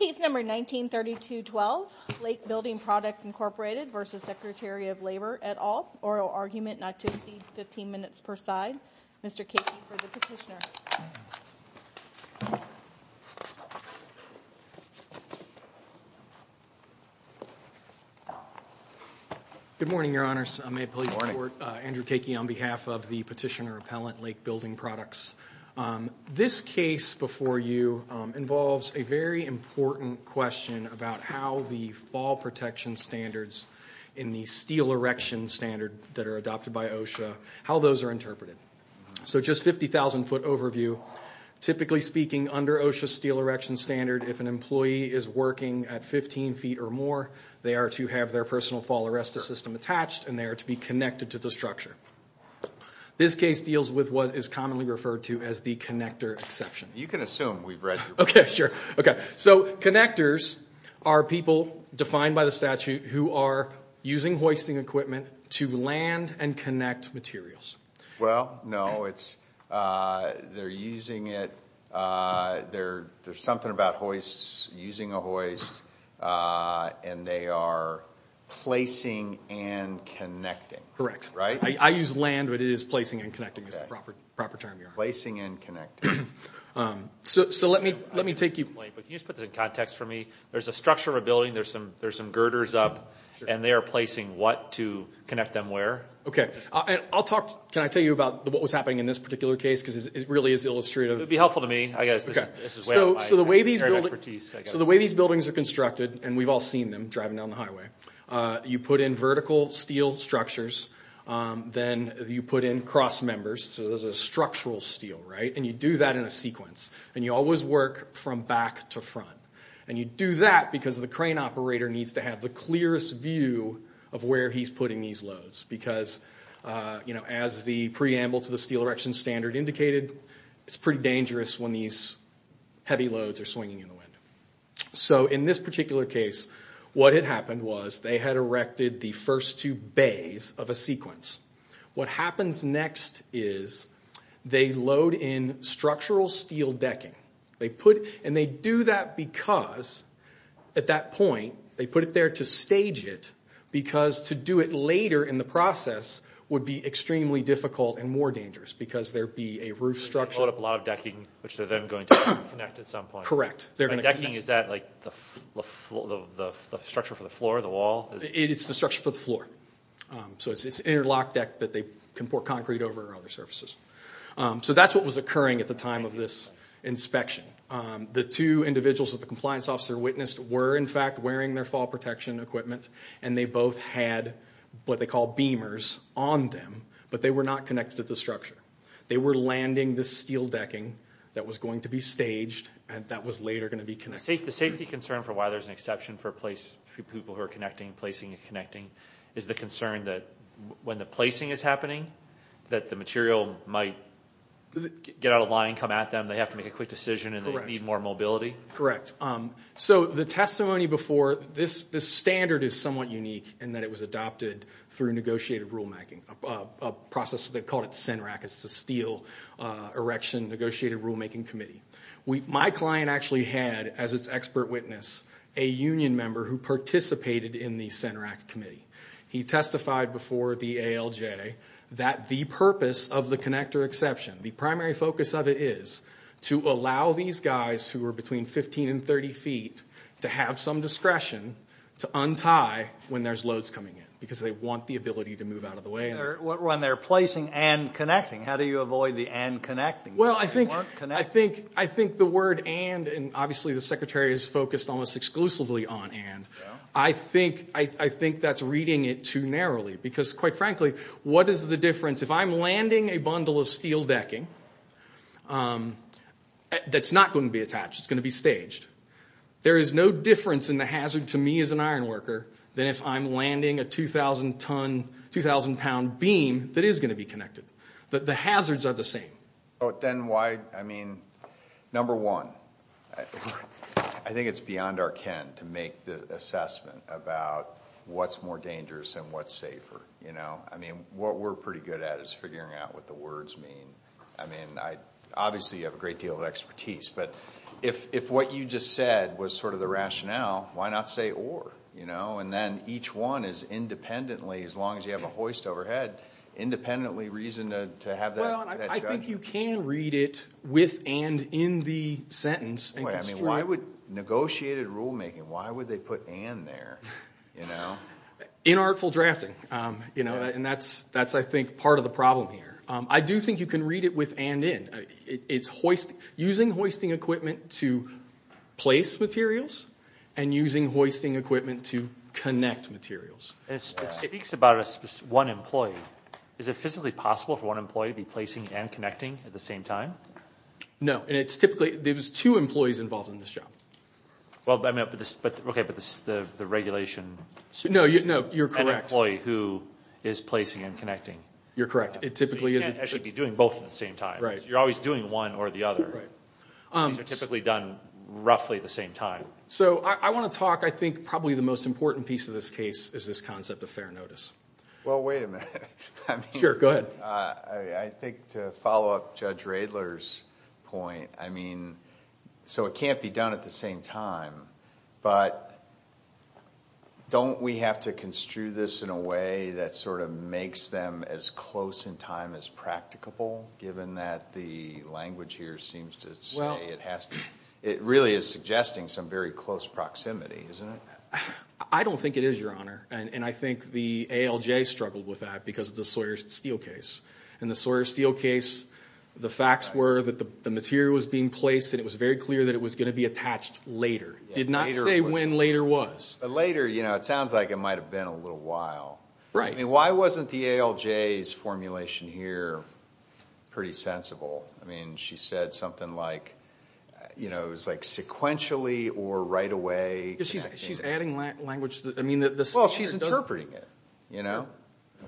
Case number 1932-12, Lake Building Products, Inc. v. Secretary of Labor, et al. Oral argument, not to exceed 15 minutes per side. Mr. Cakey for the petitioner. Good morning, Your Honors. May it please the Court. Andrew Cakey on behalf of the petitioner appellant, Lake Building Products. This case before you involves a very important question about how the fall protection standards in the steel erection standard that are adopted by OSHA, how those are interpreted. So just 50,000 foot overview. Typically speaking, under OSHA steel erection standard, if an employee is working at 15 feet or more, they are to have their personal fall arrestor system attached and they are to be connected to the structure. This case deals with what is commonly referred to as the connector exception. You can assume we've read your book. Okay, sure. Okay, so connectors are people defined by the statute who are using hoisting equipment to land and connect materials. Well, no, it's, they're using it, there's something about hoists, using a hoist, and they are placing and connecting. Correct. I use land, but it is placing and connecting is the proper term here. Placing and connecting. So let me take you. Can you just put this in context for me? There's a structure of a building, there's some girders up, and they are placing what to connect them where? Okay, and I'll talk, can I tell you about what was happening in this particular case? Because it really is illustrative. It would be helpful to me. I guess this is way out of my area of expertise, I guess. Okay, so the way these buildings are constructed, and we've all seen them driving down the highway, you put in vertical steel structures, then you put in cross members, so there's a structural steel, right? And you do that in a sequence. And you always work from back to front. And you do that because the crane operator needs to have the clearest view of where he's putting these loads. Because, you know, as the preamble to the steel erection standard indicated, it's pretty dangerous when these heavy loads are swinging in the wind. So in this particular case, what had happened was they had erected the first two bays of a sequence. What happens next is they load in structural steel decking. And they do that because at that point they put it there to stage it because to do it later in the process would be extremely difficult and more dangerous because there would be a roof structure. So they load up a lot of decking, which they're then going to connect at some point. Correct. The decking, is that like the structure for the floor, the wall? It's the structure for the floor. So it's interlock deck that they can pour concrete over and other surfaces. So that's what was occurring at the time of this inspection. The two individuals that the compliance officer witnessed were, in fact, wearing their fall protection equipment, and they both had what they call beamers on them, but they were not connected to the structure. They were landing this steel decking that was going to be staged and that was later going to be connected. The safety concern for why there's an exception for people who are connecting, placing and connecting, is the concern that when the placing is happening that the material might get out of line, come at them, they have to make a quick decision, and they need more mobility? Correct. So the testimony before, this standard is somewhat unique in that it was adopted through negotiated rulemaking, a process they called it CENRAC. It's the Steel Erection Negotiated Rulemaking Committee. My client actually had, as its expert witness, a union member who participated in the CENRAC committee. He testified before the ALJ that the purpose of the connector exception, the primary focus of it is to allow these guys who are between 15 and 30 feet to have some discretion to untie when there's loads coming in because they want the ability to move out of the way. When they're placing and connecting, how do you avoid the and connecting? Well, I think the word and, and obviously the secretary is focused almost exclusively on and, I think that's reading it too narrowly because, quite frankly, what is the difference? If I'm landing a bundle of steel decking that's not going to be attached, it's going to be staged, there is no difference in the hazard to me as an iron worker than if I'm landing a 2,000 ton, 2,000 pound beam that is going to be connected. The hazards are the same. Then why, I mean, number one, I think it's beyond our ken to make the assessment about what's more dangerous and what's safer. I mean, what we're pretty good at is figuring out what the words mean. I mean, obviously you have a great deal of expertise, but if what you just said was sort of the rationale, why not say or, and then each one is independently, as long as you have a hoist overhead, independently reasoned to have that judgment. Well, I think you can read it with and in the sentence. Wait, I mean, why would negotiated rulemaking, why would they put and there? Inartful drafting, and that's, I think, part of the problem here. I do think you can read it with and in. It's using hoisting equipment to place materials and using hoisting equipment to connect materials. It speaks about one employee. Is it physically possible for one employee to be placing and connecting at the same time? No, and it's typically, there's two employees involved in this job. Okay, but the regulation. No, you're correct. An employee who is placing and connecting. You're correct. It typically is. You can't actually be doing both at the same time. Right. You're always doing one or the other. Right. These are typically done roughly at the same time. So I want to talk, I think, probably the most important piece of this case is this concept of fair notice. Well, wait a minute. Sure, go ahead. I think to follow up Judge Radler's point, I mean, so it can't be done at the same time, but don't we have to construe this in a way that sort of makes them as close in time as practicable, given that the language here seems to say it has to, it really is suggesting some very close proximity, isn't it? I don't think it is, Your Honor. And I think the ALJ struggled with that because of the Sawyer-Steele case. In the Sawyer-Steele case, the facts were that the material was being placed, and it was very clear that it was going to be attached later. It did not say when later was. But later, you know, it sounds like it might have been a little while. Right. I mean, why wasn't the ALJ's formulation here pretty sensible? I mean, she said something like, you know, it was like sequentially or right away. She's adding language. Well, she's interpreting it, you know.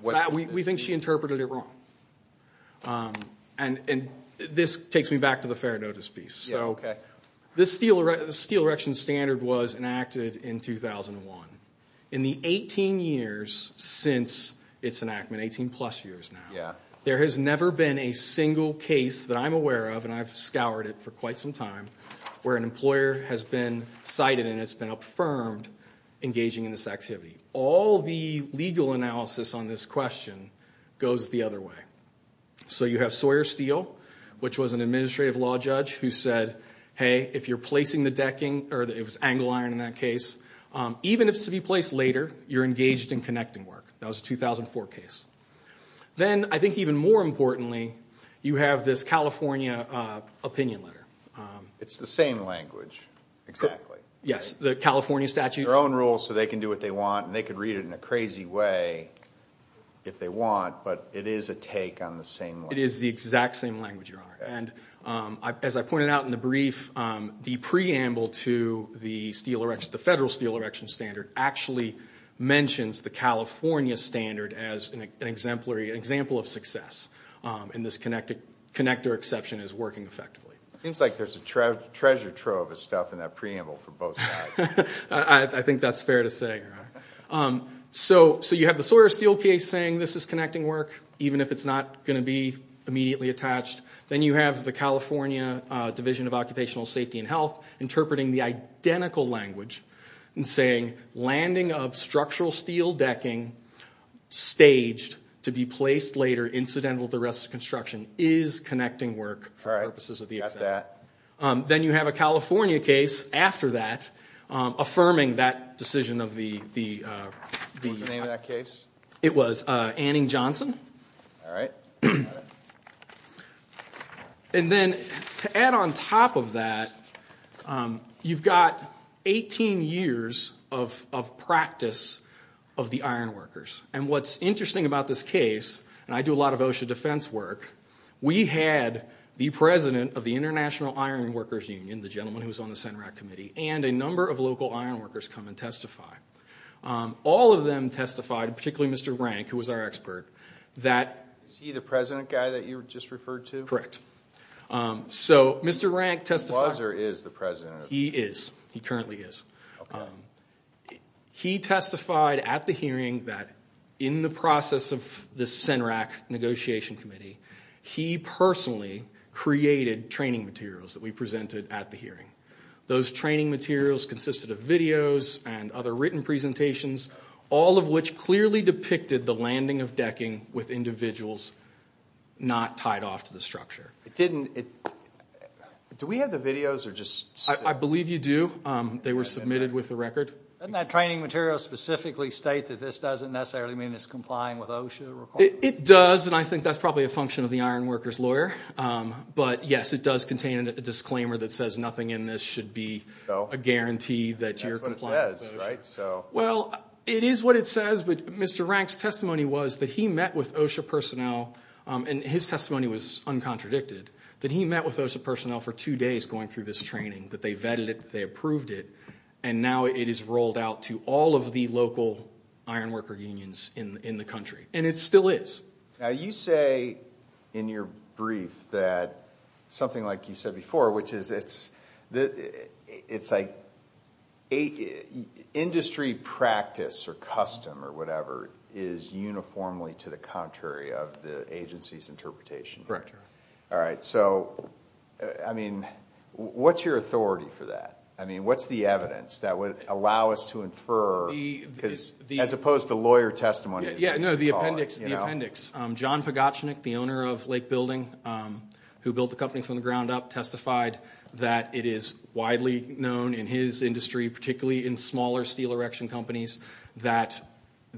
We think she interpreted it wrong. And this takes me back to the fair notice piece. Yeah, okay. So the Steele Erection Standard was enacted in 2001. In the 18 years since its enactment, 18-plus years now, there has never been a single case that I'm aware of, and I've scoured it for quite some time, where an employer has been cited and it's been affirmed engaging in this activity. All the legal analysis on this question goes the other way. So you have Sawyer-Steele, which was an administrative law judge who said, hey, if you're placing the decking, or it was angle iron in that case, even if it's to be placed later, you're engaged in connecting work. That was a 2004 case. Then I think even more importantly, you have this California opinion letter. It's the same language, exactly. Yes, the California statute. It's their own rule, so they can do what they want, and they can read it in a crazy way if they want, but it is a take on the same language. It is the exact same language, Your Honor. And as I pointed out in the brief, the preamble to the Federal Steele Erection Standard actually mentions the California standard as an example of success, and this connector exception is working effectively. It seems like there's a treasure trove of stuff in that preamble for both sides. I think that's fair to say, Your Honor. So you have the Sawyer-Steele case saying this is connecting work, even if it's not going to be immediately attached. Then you have the California Division of Occupational Safety and Health interpreting the identical language and saying, landing of structural steel decking staged to be placed later, incidental to rest of construction, is connecting work for purposes of the exemption. Then you have a California case after that affirming that decision of the... What was the name of that case? It was Anning-Johnson. All right. And then to add on top of that, you've got 18 years of practice of the iron workers. And what's interesting about this case, and I do a lot of OSHA defense work, we had the president of the International Iron Workers Union, the gentleman who was on the CENRAC committee, and a number of local iron workers come and testify. All of them testified, particularly Mr. Rank, who was our expert, that... Is he the president guy that you just referred to? Correct. So Mr. Rank testified... He was or is the president? He is. He currently is. He testified at the hearing that in the process of the CENRAC negotiation committee, he personally created training materials that we presented at the hearing. Those training materials consisted of videos and other written presentations, all of which clearly depicted the landing of decking with individuals not tied off to the structure. It didn't... Do we have the videos? I believe you do. They were submitted with the record. Doesn't that training material specifically state that this doesn't necessarily mean it's complying with OSHA requirements? It does, and I think that's probably a function of the iron workers' lawyer. But, yes, it does contain a disclaimer that says nothing in this should be a guarantee that you're complying with OSHA. That's what it says, right? Well, it is what it says, but Mr. Rank's testimony was that he met with OSHA personnel, and his testimony was uncontradicted, that he met with OSHA personnel for two days going through this training, that they vetted it, they approved it, and now it is rolled out to all of the local iron worker unions in the country. And it still is. Now, you say in your brief that something like you said before, which is it's like industry practice or custom or whatever is uniformly to the contrary of the agency's interpretation. Correct. All right. So, I mean, what's your authority for that? I mean, what's the evidence that would allow us to infer, as opposed to lawyer testimony? Yeah, no, the appendix, the appendix. John Pagotchnik, the owner of Lake Building, who built the company from the ground up, testified that it is widely known in his industry, particularly in smaller steel erection companies, that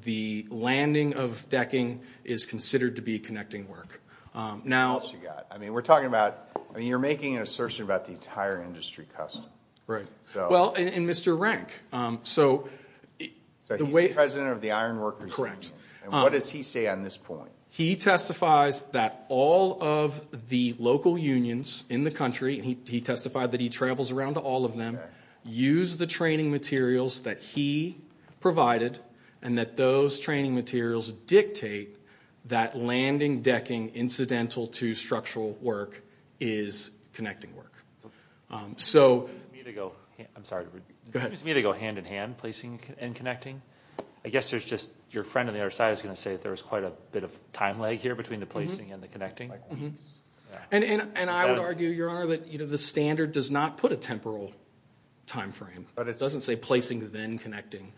the landing of decking is considered to be connecting work. What else you got? I mean, we're talking about, I mean, you're making an assertion about the entire industry custom. Right. Well, and Mr. Renk. So, he's the president of the iron worker union. Correct. And what does he say on this point? He testifies that all of the local unions in the country, and he testified that he travels around to all of them, use the training materials that he provided, and that those training materials dictate that landing decking incidental to structural work is connecting work. So. I'm sorry. Go ahead. Is it me to go hand in hand, placing and connecting? I guess there's just, your friend on the other side is going to say that there was quite a bit of time lag here between the placing and the connecting. And I would argue, Your Honor, that the standard does not put a temporal time frame. It doesn't say placing then connecting.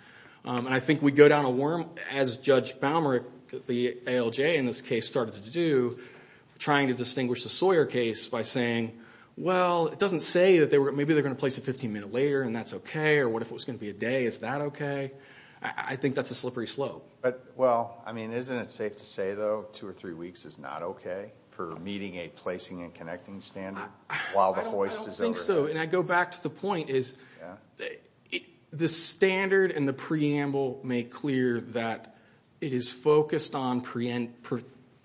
And I think we go down a worm, as Judge Balmer, the ALJ in this case, started to do, trying to distinguish the Sawyer case by saying, well, it doesn't say that maybe they're going to place it 15 minutes later and that's okay, or what if it was going to be a day, is that okay? I think that's a slippery slope. But, well, I mean, isn't it safe to say, though, two or three weeks is not okay for meeting a placing and connecting standard while the hoist is over? I don't think so. And I go back to the point is the standard and the preamble make clear that it is focused on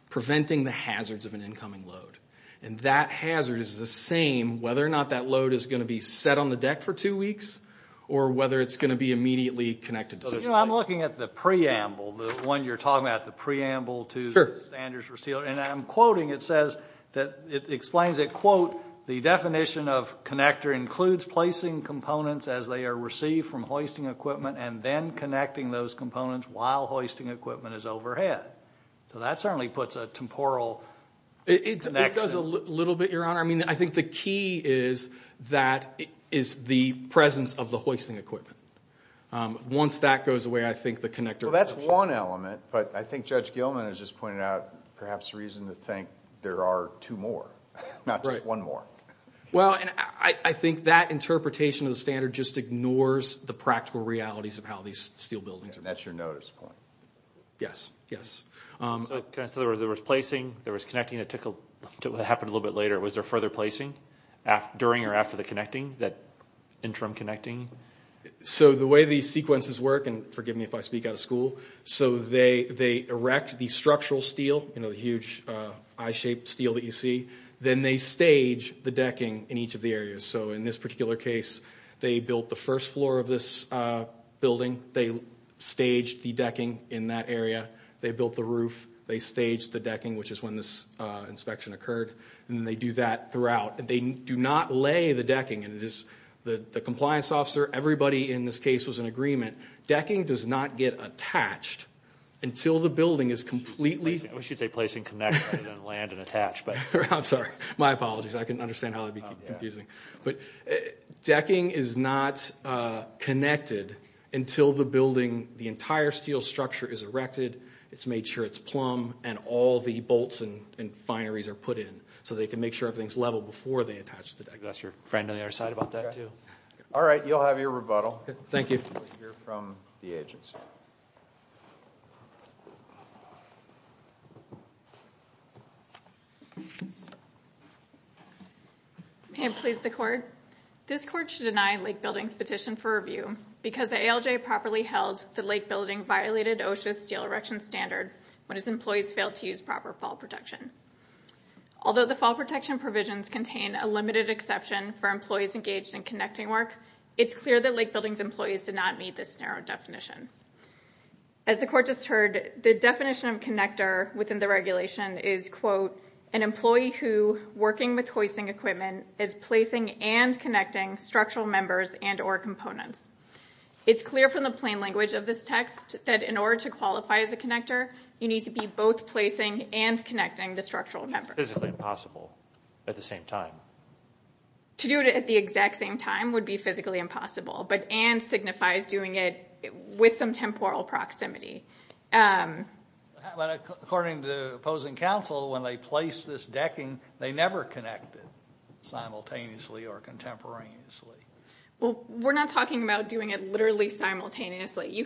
preventing the hazards of an incoming load. And that hazard is the same whether or not that load is going to be set on the deck for two weeks or whether it's going to be immediately connected. You know, I'm looking at the preamble, the one you're talking about, the preamble to standards for sealer. And I'm quoting, it says that, it explains it, quote, the definition of connector includes placing components as they are received from hoisting equipment and then connecting those components while hoisting equipment is overhead. So that certainly puts a temporal connection. It does a little bit, Your Honor. I mean, I think the key is that, is the presence of the hoisting equipment. Once that goes away, I think the connector. Well, that's one element. But I think Judge Gilman has just pointed out perhaps a reason to think there are two more, not just one more. Well, and I think that interpretation of the standard just ignores the practical realities of how these steel buildings are built. That's your notice point. Yes, yes. So there was placing, there was connecting. It happened a little bit later. Was there further placing during or after the connecting, that interim connecting? So the way these sequences work, and forgive me if I speak out of school. So they erect the structural steel, you know, the huge I-shaped steel that you see. Then they stage the decking in each of the areas. So in this particular case, they built the first floor of this building. They staged the decking in that area. They built the roof. They staged the decking, which is when this inspection occurred. And they do that throughout. They do not lay the decking. The compliance officer, everybody in this case was in agreement. Decking does not get attached until the building is completely. We should say placing, connecting, and then land and attach. I'm sorry. My apologies. I couldn't understand how that would be confusing. But decking is not connected until the building, the entire steel structure is erected. It's made sure it's plumb, and all the bolts and fineries are put in so they can make sure everything's level before they attach the decking. You could ask your friend on the other side about that, too. All right. You'll have your rebuttal. Thank you. We'll hear from the agents. May it please the Court. This Court should deny Lake Building's petition for review because the ALJ properly held that Lake Building violated OSHA's steel erection standard when its employees failed to use proper fall protection. Although the fall protection provisions contain a limited exception for employees engaged in connecting work, it's clear that Lake Building's employees did not meet this narrow definition. As the Court just heard, the definition of connector within the regulation is, quote, an employee who, working with hoisting equipment, is placing and connecting structural members and or components. It's clear from the plain language of this text that in order to qualify as a connector, you need to be both placing and connecting the structural members. It's physically impossible at the same time. To do it at the exact same time would be physically impossible, but and signifies doing it with some temporal proximity. According to the opposing counsel, when they place this decking, they never connect it simultaneously or contemporaneously. Well, we're not talking about doing it literally simultaneously.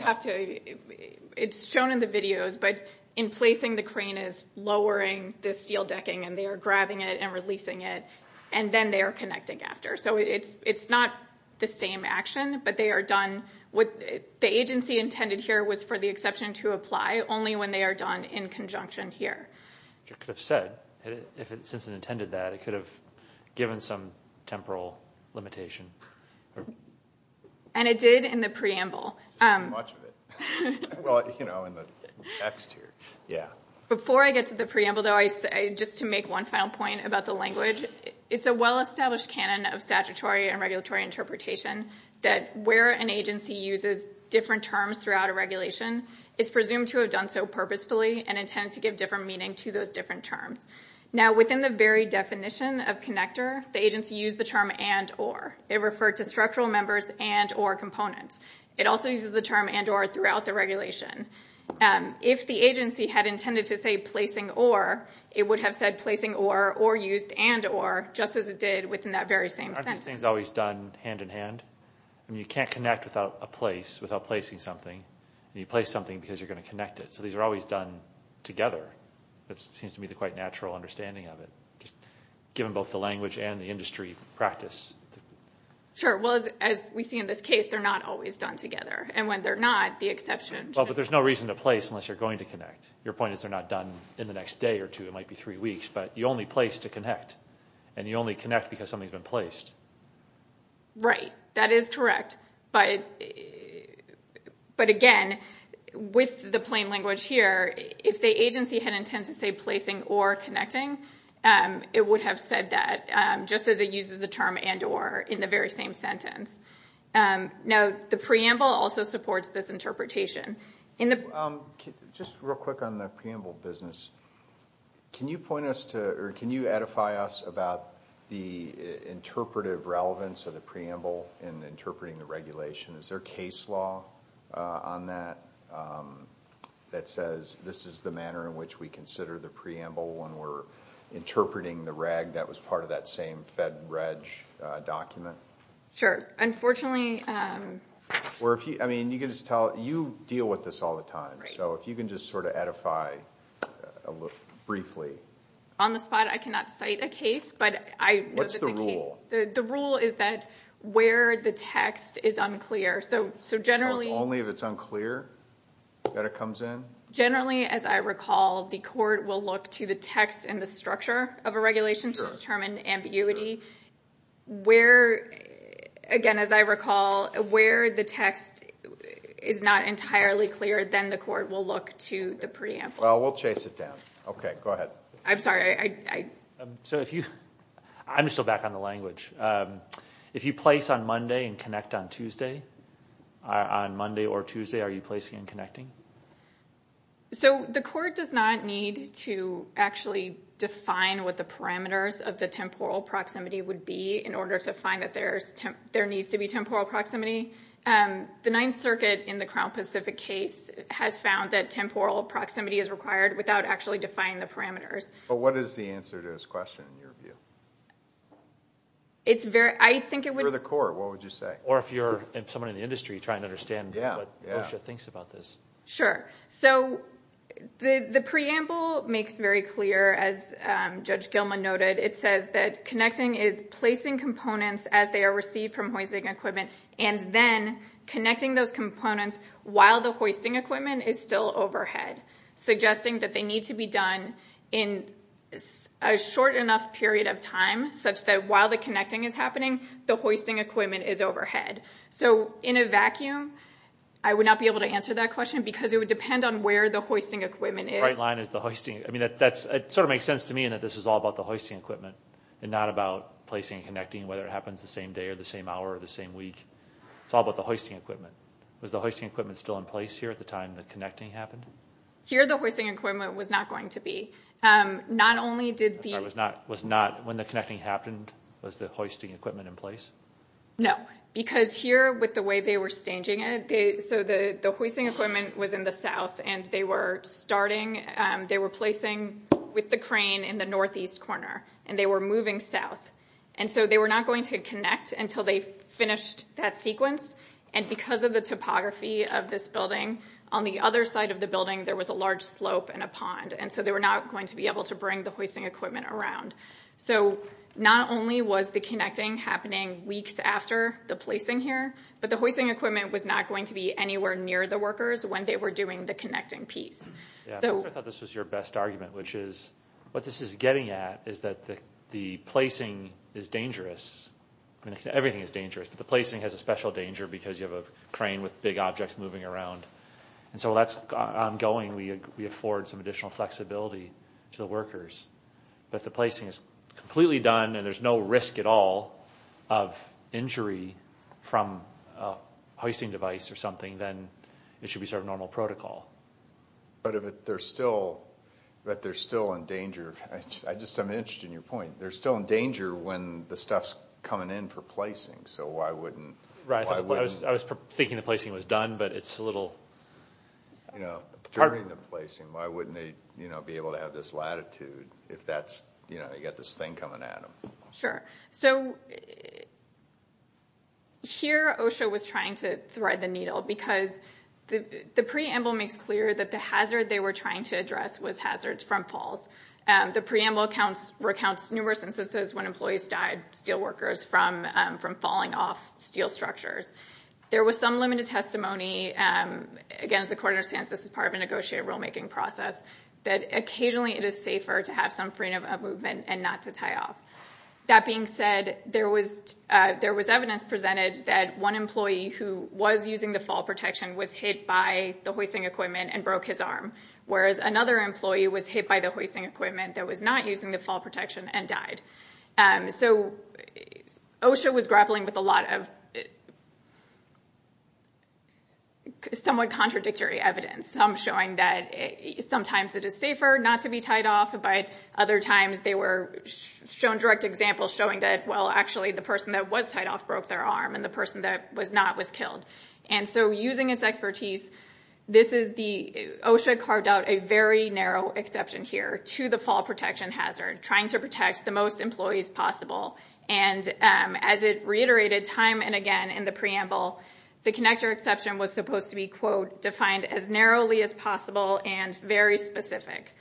It's shown in the videos, but in placing the crane is lowering the steel decking and they are grabbing it and releasing it, and then they are connecting after. So it's not the same action, but they are done. The agency intended here was for the exception to apply only when they are done in conjunction here. Which it could have said, since it intended that. It could have given some temporal limitation. And it did in the preamble. Before I get to the preamble, just to make one final point about the language, it's a well-established canon of statutory and regulatory interpretation that where an agency uses different terms throughout a regulation, it's presumed to have done so purposefully and intended to give different meaning to those different terms. Now, within the very definition of connector, the agency used the term and or. It referred to structural members and or components. It also uses the term and or throughout the regulation. If the agency had intended to say placing or, it would have said placing or, or used and or, just as it did within that very same sentence. Aren't these things always done hand in hand? You can't connect without a place, without placing something. You place something because you're going to connect it. So these are always done together. That seems to be the quite natural understanding of it. Given both the language and the industry practice. Sure. Well, as we see in this case, they're not always done together. And when they're not, the exception should... But there's no reason to place unless you're going to connect. Your point is they're not done in the next day or two. It might be three weeks. But you only place to connect. And you only connect because something's been placed. Right. That is correct. But again, with the plain language here, if the agency had intended to say placing or connecting, it would have said that just as it uses the term and or in the very same sentence. Now, the preamble also supports this interpretation. Just real quick on the preamble business. Can you point us to, or can you edify us about the interpretive relevance of the preamble in interpreting the regulation? Is there case law on that that says this is the manner in which we consider the preamble when we're interpreting the reg that was part of that same fed reg document? Sure. Unfortunately... I mean, you deal with this all the time. So if you can just sort of edify briefly. On the spot, I cannot cite a case. What's the rule? The rule is that where the text is unclear. So generally... So it's only if it's unclear that it comes in? Generally, as I recall, the court will look to the text and the structure of a regulation to determine ambiguity. Where, again, as I recall, where the text is not entirely clear, then the court will look to the preamble. Well, we'll chase it down. Okay, go ahead. I'm sorry, I... So if you... I'm still back on the language. If you place on Monday and connect on Tuesday, on Monday or Tuesday, are you placing and connecting? So the court does not need to actually define what the parameters of the temporal proximity would be in order to find that there needs to be temporal proximity. The Ninth Circuit in the Crown Pacific case has found that temporal proximity is required without actually defining the parameters. But what is the answer to this question, in your view? It's very... I think it would... For the court, what would you say? Or if you're someone in the industry, try and understand what OSHA thinks about this. Sure. So the preamble makes very clear, as Judge Gilman noted, it says that connecting is placing components as they are received from hoisting equipment and then connecting those components while the hoisting equipment is still overhead, suggesting that they need to be done in a short enough period of time such that while the connecting is happening, the hoisting equipment is overhead. So in a vacuum, I would not be able to answer that question because it would depend on where the hoisting equipment is. The right line is the hoisting... It sort of makes sense to me that this is all about the hoisting equipment and not about placing and connecting, whether it happens the same day or the same hour or the same week. It's all about the hoisting equipment. Was the hoisting equipment still in place here at the time the connecting happened? Here, the hoisting equipment was not going to be. Not only did the... When the connecting happened, was the hoisting equipment in place? No, because here, with the way they were staging it... So the hoisting equipment was in the south, and they were starting... They were placing with the crane in the northeast corner, and they were moving south. And so they were not going to connect until they finished that sequence. And because of the topography of this building, on the other side of the building, there was a large slope and a pond, and so they were not going to be able to bring the hoisting equipment around. So not only was the connecting happening weeks after the placing here, but the hoisting equipment was not going to be anywhere near the workers when they were doing the connecting piece. I thought this was your best argument, which is what this is getting at is that the placing is dangerous. I mean, everything is dangerous, but the placing has a special danger because you have a crane with big objects moving around. And so that's ongoing. We afford some additional flexibility to the workers. But if the placing is completely done and there's no risk at all of injury from a hoisting device or something, then it should be sort of normal protocol. But if they're still in danger... I'm interested in your point. They're still in danger when the stuff's coming in for placing, so why wouldn't... Right, I was thinking the placing was done, but it's a little... You know, during the placing, why wouldn't they be able to have this latitude if they've got this thing coming at them? Sure. So here OSHA was trying to thread the needle because the preamble makes clear that the hazard they were trying to address was hazards from falls. The preamble recounts numerous instances when employees died, steelworkers, from falling off steel structures. There was some limited testimony. Again, as the court understands, this is part of a negotiated rulemaking process, that occasionally it is safer to have some freedom of movement and not to tie off. That being said, there was evidence presented that one employee who was using the fall protection was hit by the hoisting equipment and broke his arm, whereas another employee was hit by the hoisting equipment that was not using the fall protection and died. So OSHA was grappling with a lot of somewhat contradictory evidence, some showing that sometimes it is safer not to be tied off, but other times they were shown direct examples showing that, well, actually, the person that was tied off broke their arm and the person that was not was killed. And so using its expertise, OSHA carved out a very narrow exception here to the fall protection hazard, trying to protect the most employees possible. And as it reiterated time and again in the preamble, the connector exception was supposed to be, quote, defined as narrowly as possible and very specific.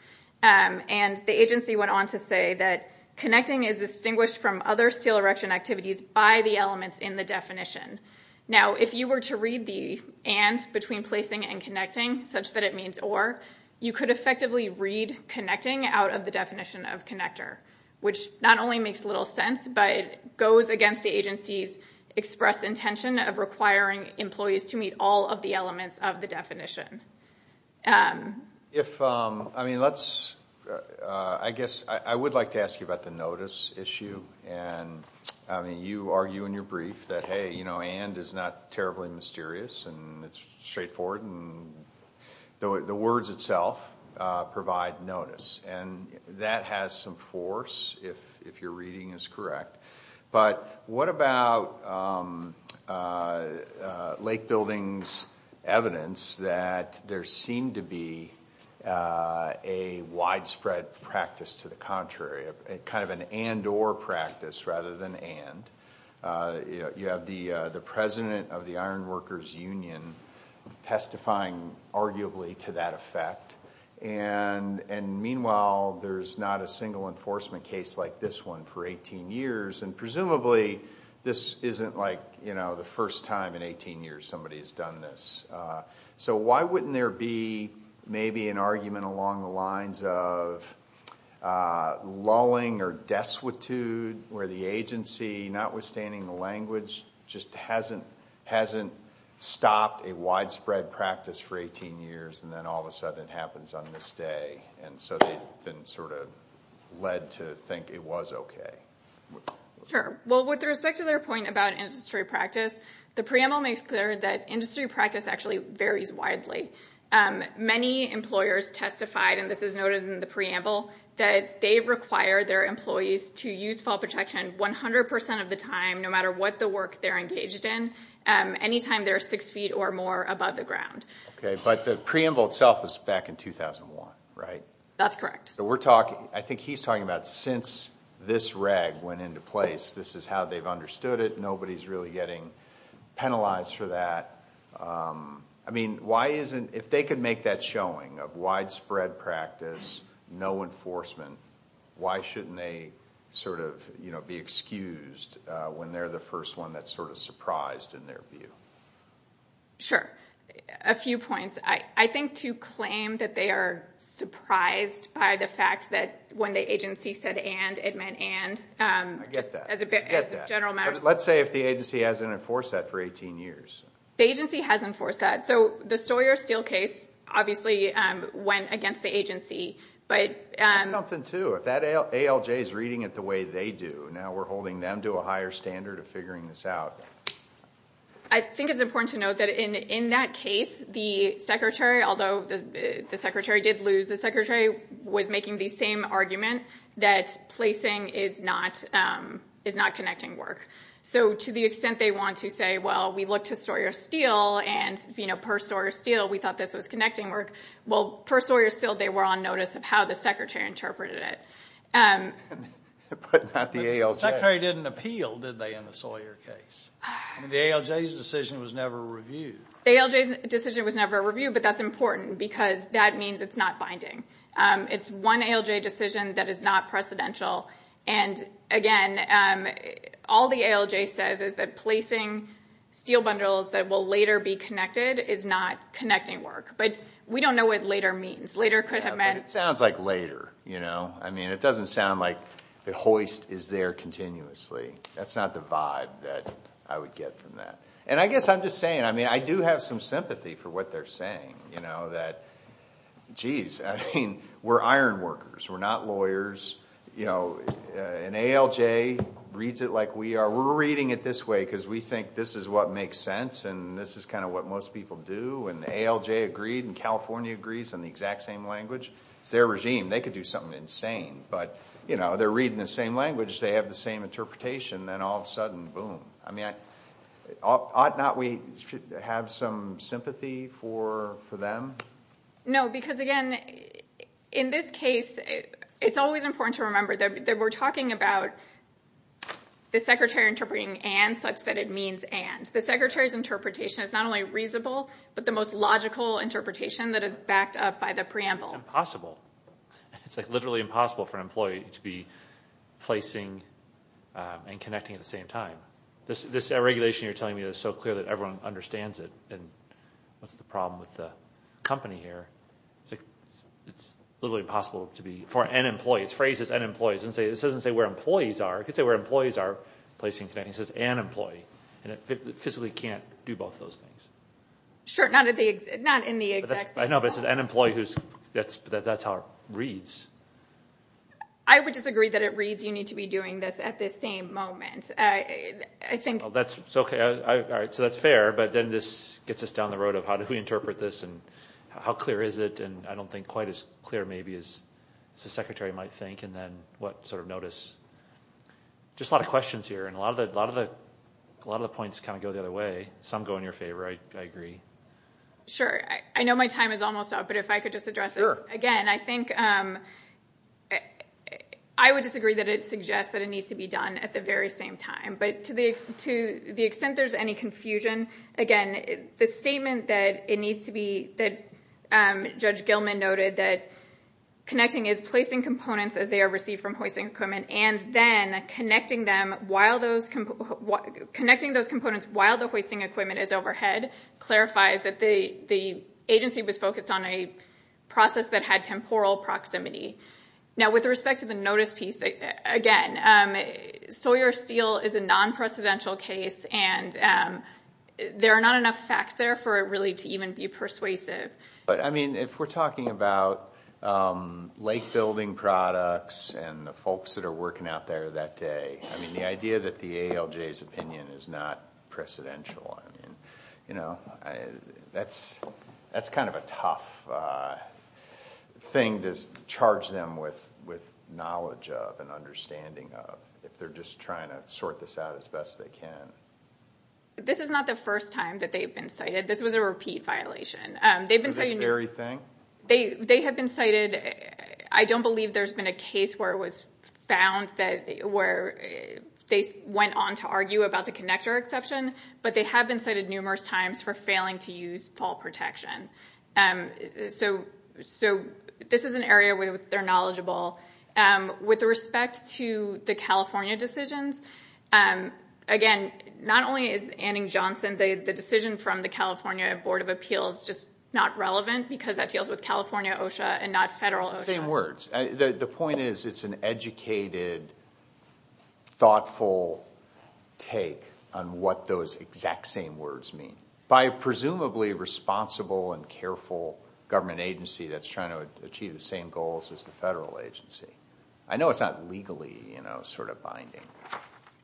And the agency went on to say that connecting is distinguished from other steel erection activities by the elements in the definition. Now, if you were to read the and between placing and connecting, such that it means or, you could effectively read connecting out of the definition of connector, which not only makes little sense, but goes against the agency's express intention of requiring employees to meet all of the elements of the definition. I guess I would like to ask you about the notice issue. And, I mean, you argue in your brief that, hey, you know, and is not terribly mysterious and it's straightforward and the words itself provide notice. And that has some force, if your reading is correct. But what about Lake Building's evidence that there seemed to be a widespread practice to the contrary, kind of an and or practice rather than and. You have the president of the Iron Workers Union testifying arguably to that effect. And meanwhile, there's not a single enforcement case like this one for 18 years. And presumably, this isn't like, you know, the first time in 18 years somebody has done this. So why wouldn't there be maybe an argument along the lines of lulling or destitute where the agency, notwithstanding the language, just hasn't stopped a widespread practice for 18 years and then all of a sudden it happens on this day. And so they've been sort of led to think it was okay. Sure. Well, with respect to their point about industry practice, the preamble makes clear that industry practice actually varies widely. Many employers testified, and this is noted in the preamble, that they require their employees to use fall protection 100% of the time, no matter what the work they're engaged in, anytime they're six feet or more above the ground. Okay, but the preamble itself is back in 2001, right? That's correct. So we're talking, I think he's talking about since this reg went into place, this is how they've understood it. Nobody's really getting penalized for that. I mean, why isn't, if they could make that showing of widespread practice, no enforcement, why shouldn't they sort of, you know, be excused when they're the first one that's sort of surprised in their view? Sure. A few points. I think to claim that they are surprised by the fact that when the agency said and, it meant and. I get that. As a general matter. Let's say if the agency hasn't enforced that for 18 years. The agency has enforced that. So the Sawyer-Steele case obviously went against the agency. But... That's something, too. If that ALJ is reading it the way they do, now we're holding them to a higher standard of figuring this out. I think it's important to note that in that case, the secretary, although the secretary did lose, the secretary was making the same argument that placing is not connecting work. So to the extent they want to say, well, we looked to Sawyer-Steele, and, you know, per Sawyer-Steele, we thought this was connecting work. Well, per Sawyer-Steele, they were on notice of how the secretary interpreted it. But not the ALJ. The secretary didn't appeal, did they, in the Sawyer case? The ALJ's decision was never reviewed. The ALJ's decision was never reviewed, but that's important because that means it's not binding. It's one ALJ decision that is not precedential. And, again, all the ALJ says is that placing steel bundles that will later be connected is not connecting work. But we don't know what later means. Later could have meant... But it sounds like later, you know? I mean, it doesn't sound like the hoist is there continuously. That's not the vibe that I would get from that. And I guess I'm just saying, I mean, I do have some sympathy for what they're saying, you know, that, geez, I mean, we're iron workers. We're not lawyers. You know, an ALJ reads it like we are. We're reading it this way because we think this is what makes sense, and this is kind of what most people do. And the ALJ agreed, and California agrees on the exact same language. It's their regime. They could do something insane. But, you know, they're reading the same language. They have the same interpretation. Then all of a sudden, boom. I mean, ought not we have some sympathy for them? No, because, again, in this case, it's always important to remember that we're talking about the secretary interpreting and such that it means and. The secretary's interpretation is not only reasonable, but the most logical interpretation that is backed up by the preamble. It's impossible. It's, like, literally impossible for an employee to be placing and connecting at the same time. This regulation you're telling me is so clear that everyone understands it, and what's the problem with the company here? It's literally impossible for an employee. It's phrased as an employee. It doesn't say where employees are. It could say where employees are placing and connecting. It says an employee, and it physically can't do both those things. Sure, not in the exact same way. I know, but it says an employee. That's how it reads. I would disagree that it reads you need to be doing this at this same moment. I think... That's okay. All right, so that's fair, but then this gets us down the road of how do we interpret this and how clear is it, and I don't think quite as clear, maybe, as the secretary might think, and then what sort of notice. Just a lot of questions here, and a lot of the points kind of go the other way. Some go in your favor, I agree. Sure. I know my time is almost up, but if I could just address it again. I think I would disagree that it suggests that it needs to be done at the very same time, but to the extent there's any confusion, again, the statement that it needs to be... that Judge Gilman noted that connecting is placing components as they are received from hoisting equipment, and then connecting those components while the hoisting equipment is overhead clarifies that the agency was focused on a process that had temporal proximity. Now, with respect to the notice piece, again, Sawyer Steel is a non-precedential case, and there are not enough facts there for it really to even be persuasive. But, I mean, if we're talking about lake-building products and the folks that are working out there that day, I mean, the idea that the ALJ's opinion is not precedential, I mean, you know, that's kind of a tough thing to charge them with knowledge of and understanding of if they're just trying to sort this out as best they can. This is not the first time that they've been cited. This was a repeat violation. For this very thing? They have been cited... I don't believe there's been a case where it was found where they went on to argue about the connector exception, but they have been cited numerous times for failing to use fall protection. So this is an area where they're knowledgeable. With respect to the California decisions, again, not only is Anning-Johnson, the decision from the California Board of Appeals just not relevant because that deals with California OSHA and not federal OSHA. It's the same words. The point is it's an educated, thoughtful take on what those exact same words mean by a presumably responsible and careful government agency that's trying to achieve the same goals as the federal agency. I know it's not legally, you know, sort of binding.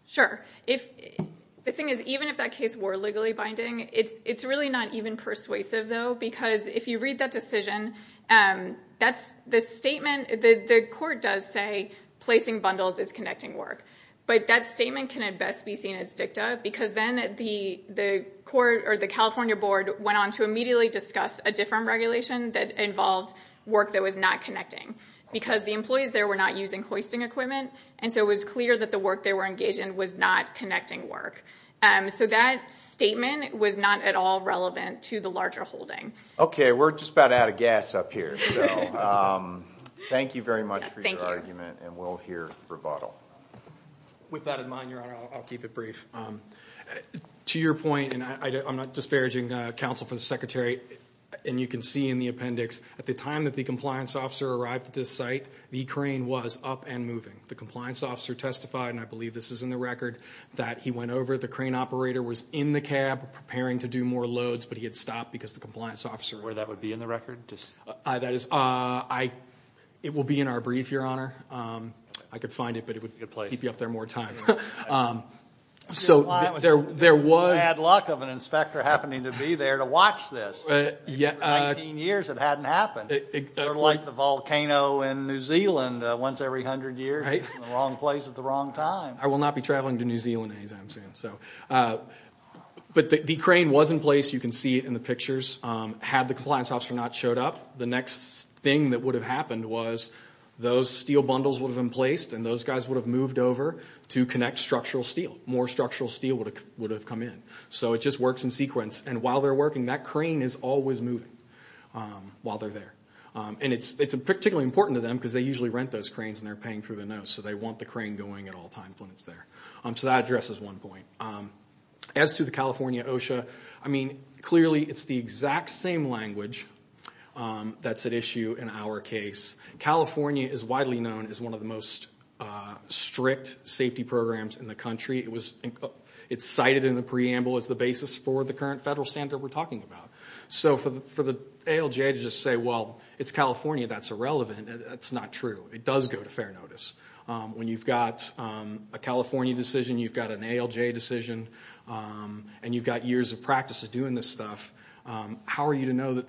Sure. The thing is, even if that case were legally binding, it's really not even persuasive, though, because if you read that decision, the court does say placing bundles is connecting work, but that statement can at best be seen as dicta because then the California Board went on to immediately discuss a different regulation that involved work that was not connecting because the employees there were not using hoisting equipment, and so it was clear that the work they were engaged in was not connecting work. So that statement was not at all relevant to the larger holding. We're just about out of gas up here. Thank you very much for your argument, and we'll hear rebuttal. With that in mind, Your Honor, I'll keep it brief. To your point, and I'm not disparaging counsel for the Secretary, and you can see in the appendix, at the time that the compliance officer arrived at this site, the crane was up and moving. The compliance officer testified, and I believe this is in the record, that he went over, the crane operator was in the cab preparing to do more loads, but he had stopped because the compliance officer... Where that would be in the record? That is... It will be in our brief, Your Honor. I could find it, but it would keep you up there more time. So there was... Bad luck of an inspector happening to be there to watch this. 19 years, it hadn't happened. Sort of like the volcano in New Zealand, once every 100 years, it's in the wrong place at the wrong time. I will not be traveling to New Zealand anytime soon. But the crane was in place. You can see it in the pictures. Had the compliance officer not showed up, the next thing that would have happened was those steel bundles would have been placed, and those guys would have moved over to connect structural steel. More structural steel would have come in. So it just works in sequence. And while they're working, that crane is always moving while they're there. And it's particularly important to them because they usually rent those cranes, and they're paying through the nose, so they want the crane going at all times when it's there. So that addresses one point. As to the California OSHA, I mean, clearly it's the exact same language that's at issue in our case. California is widely known as one of the most strict safety programs in the country. It's cited in the preamble as the basis for the current federal standard we're talking about. So for the ALJ to just say, well, it's California, that's irrelevant, that's not true. It does go to fair notice. When you've got a California decision, you've got an ALJ decision, and you've got years of practice of doing this stuff, how are you to know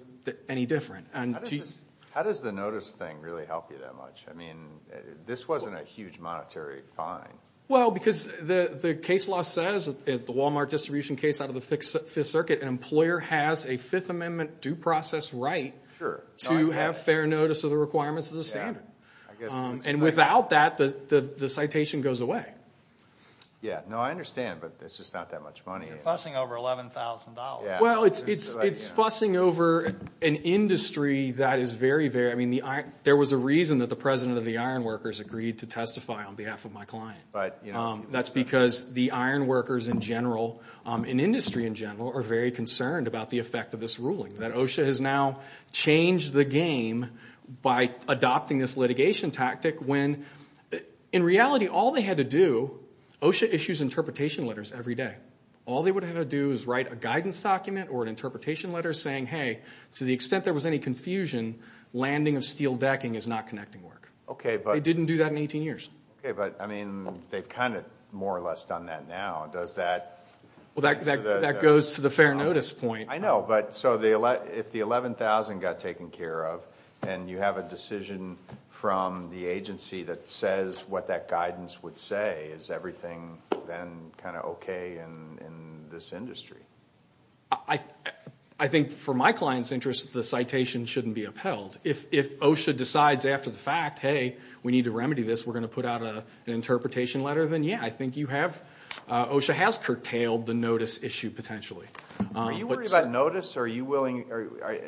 any different? How does the notice thing really help you that much? I mean, this wasn't a huge monetary fine. Well, because the case law says, the Walmart distribution case out of the Fifth Circuit, an employer has a Fifth Amendment due process right to have fair notice of the requirements of the standard. And without that, the citation goes away. Yeah, no, I understand, but it's just not that much money. You're fussing over $11,000. Well, it's fussing over an industry that is very, very, I mean, there was a reason that the president of the ironworkers agreed to testify on behalf of my client. That's because the ironworkers in general, in industry in general, are very concerned about the effect of this ruling, that OSHA has now changed the game by adopting this litigation tactic when, in reality, all they had to do, OSHA issues interpretation letters every day. All they would have to do is write a guidance document or an interpretation letter saying, hey, to the extent there was any confusion, landing of steel decking is not connecting work. They didn't do that in 18 years. Okay, but I mean, they've kind of more or less done that now. Does that... Well, that goes to the fair notice point. I know, but so if the $11,000 got taken care of and you have a decision from the agency that says what that guidance would say, is everything then kind of okay in this industry? I think for my client's interest, the citation shouldn't be upheld. If OSHA decides after the fact, hey, we need to remedy this, we're going to put out an interpretation letter, then yeah, I think you have... OSHA has curtailed the notice issue potentially. Are you worried about notice or are you willing...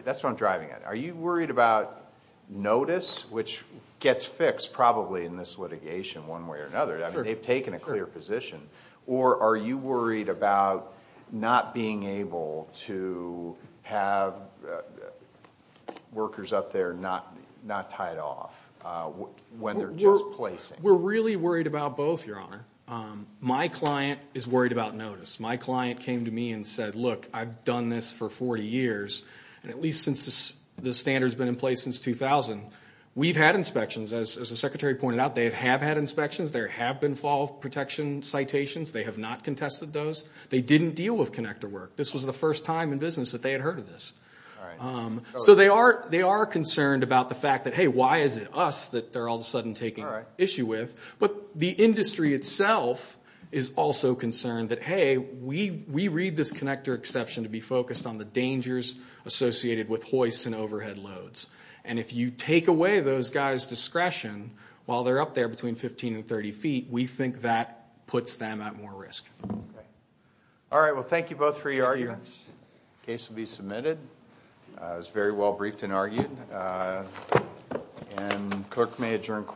That's what I'm driving at. Are you worried about notice, which gets fixed probably in this litigation one way or another? They've taken a clear position. Or are you worried about not being able to have workers up there not tied off when they're just placing? We're really worried about both, Your Honour. My client is worried about notice. My client came to me and said, look, I've done this for 40 years, and at least since the standard's been in place since 2000, we've had inspections. As the Secretary pointed out, they have had inspections. There have been fall protection citations. They have not contested those. They didn't deal with connector work. This was the first time in business that they had heard of this. So they are concerned about the fact that, hey, why is it us that they're all of a sudden taking issue with? But the industry itself is also concerned that, hey, we read this connector exception to be focused on the dangers associated with hoists and overhead loads. And if you take away those guys' discretion while they're up there between 15 and 30 feet, we think that puts them at more risk. Okay. All right, well, thank you both for your arguments. The case will be submitted. It was very well briefed and argued. And the clerk may adjourn court.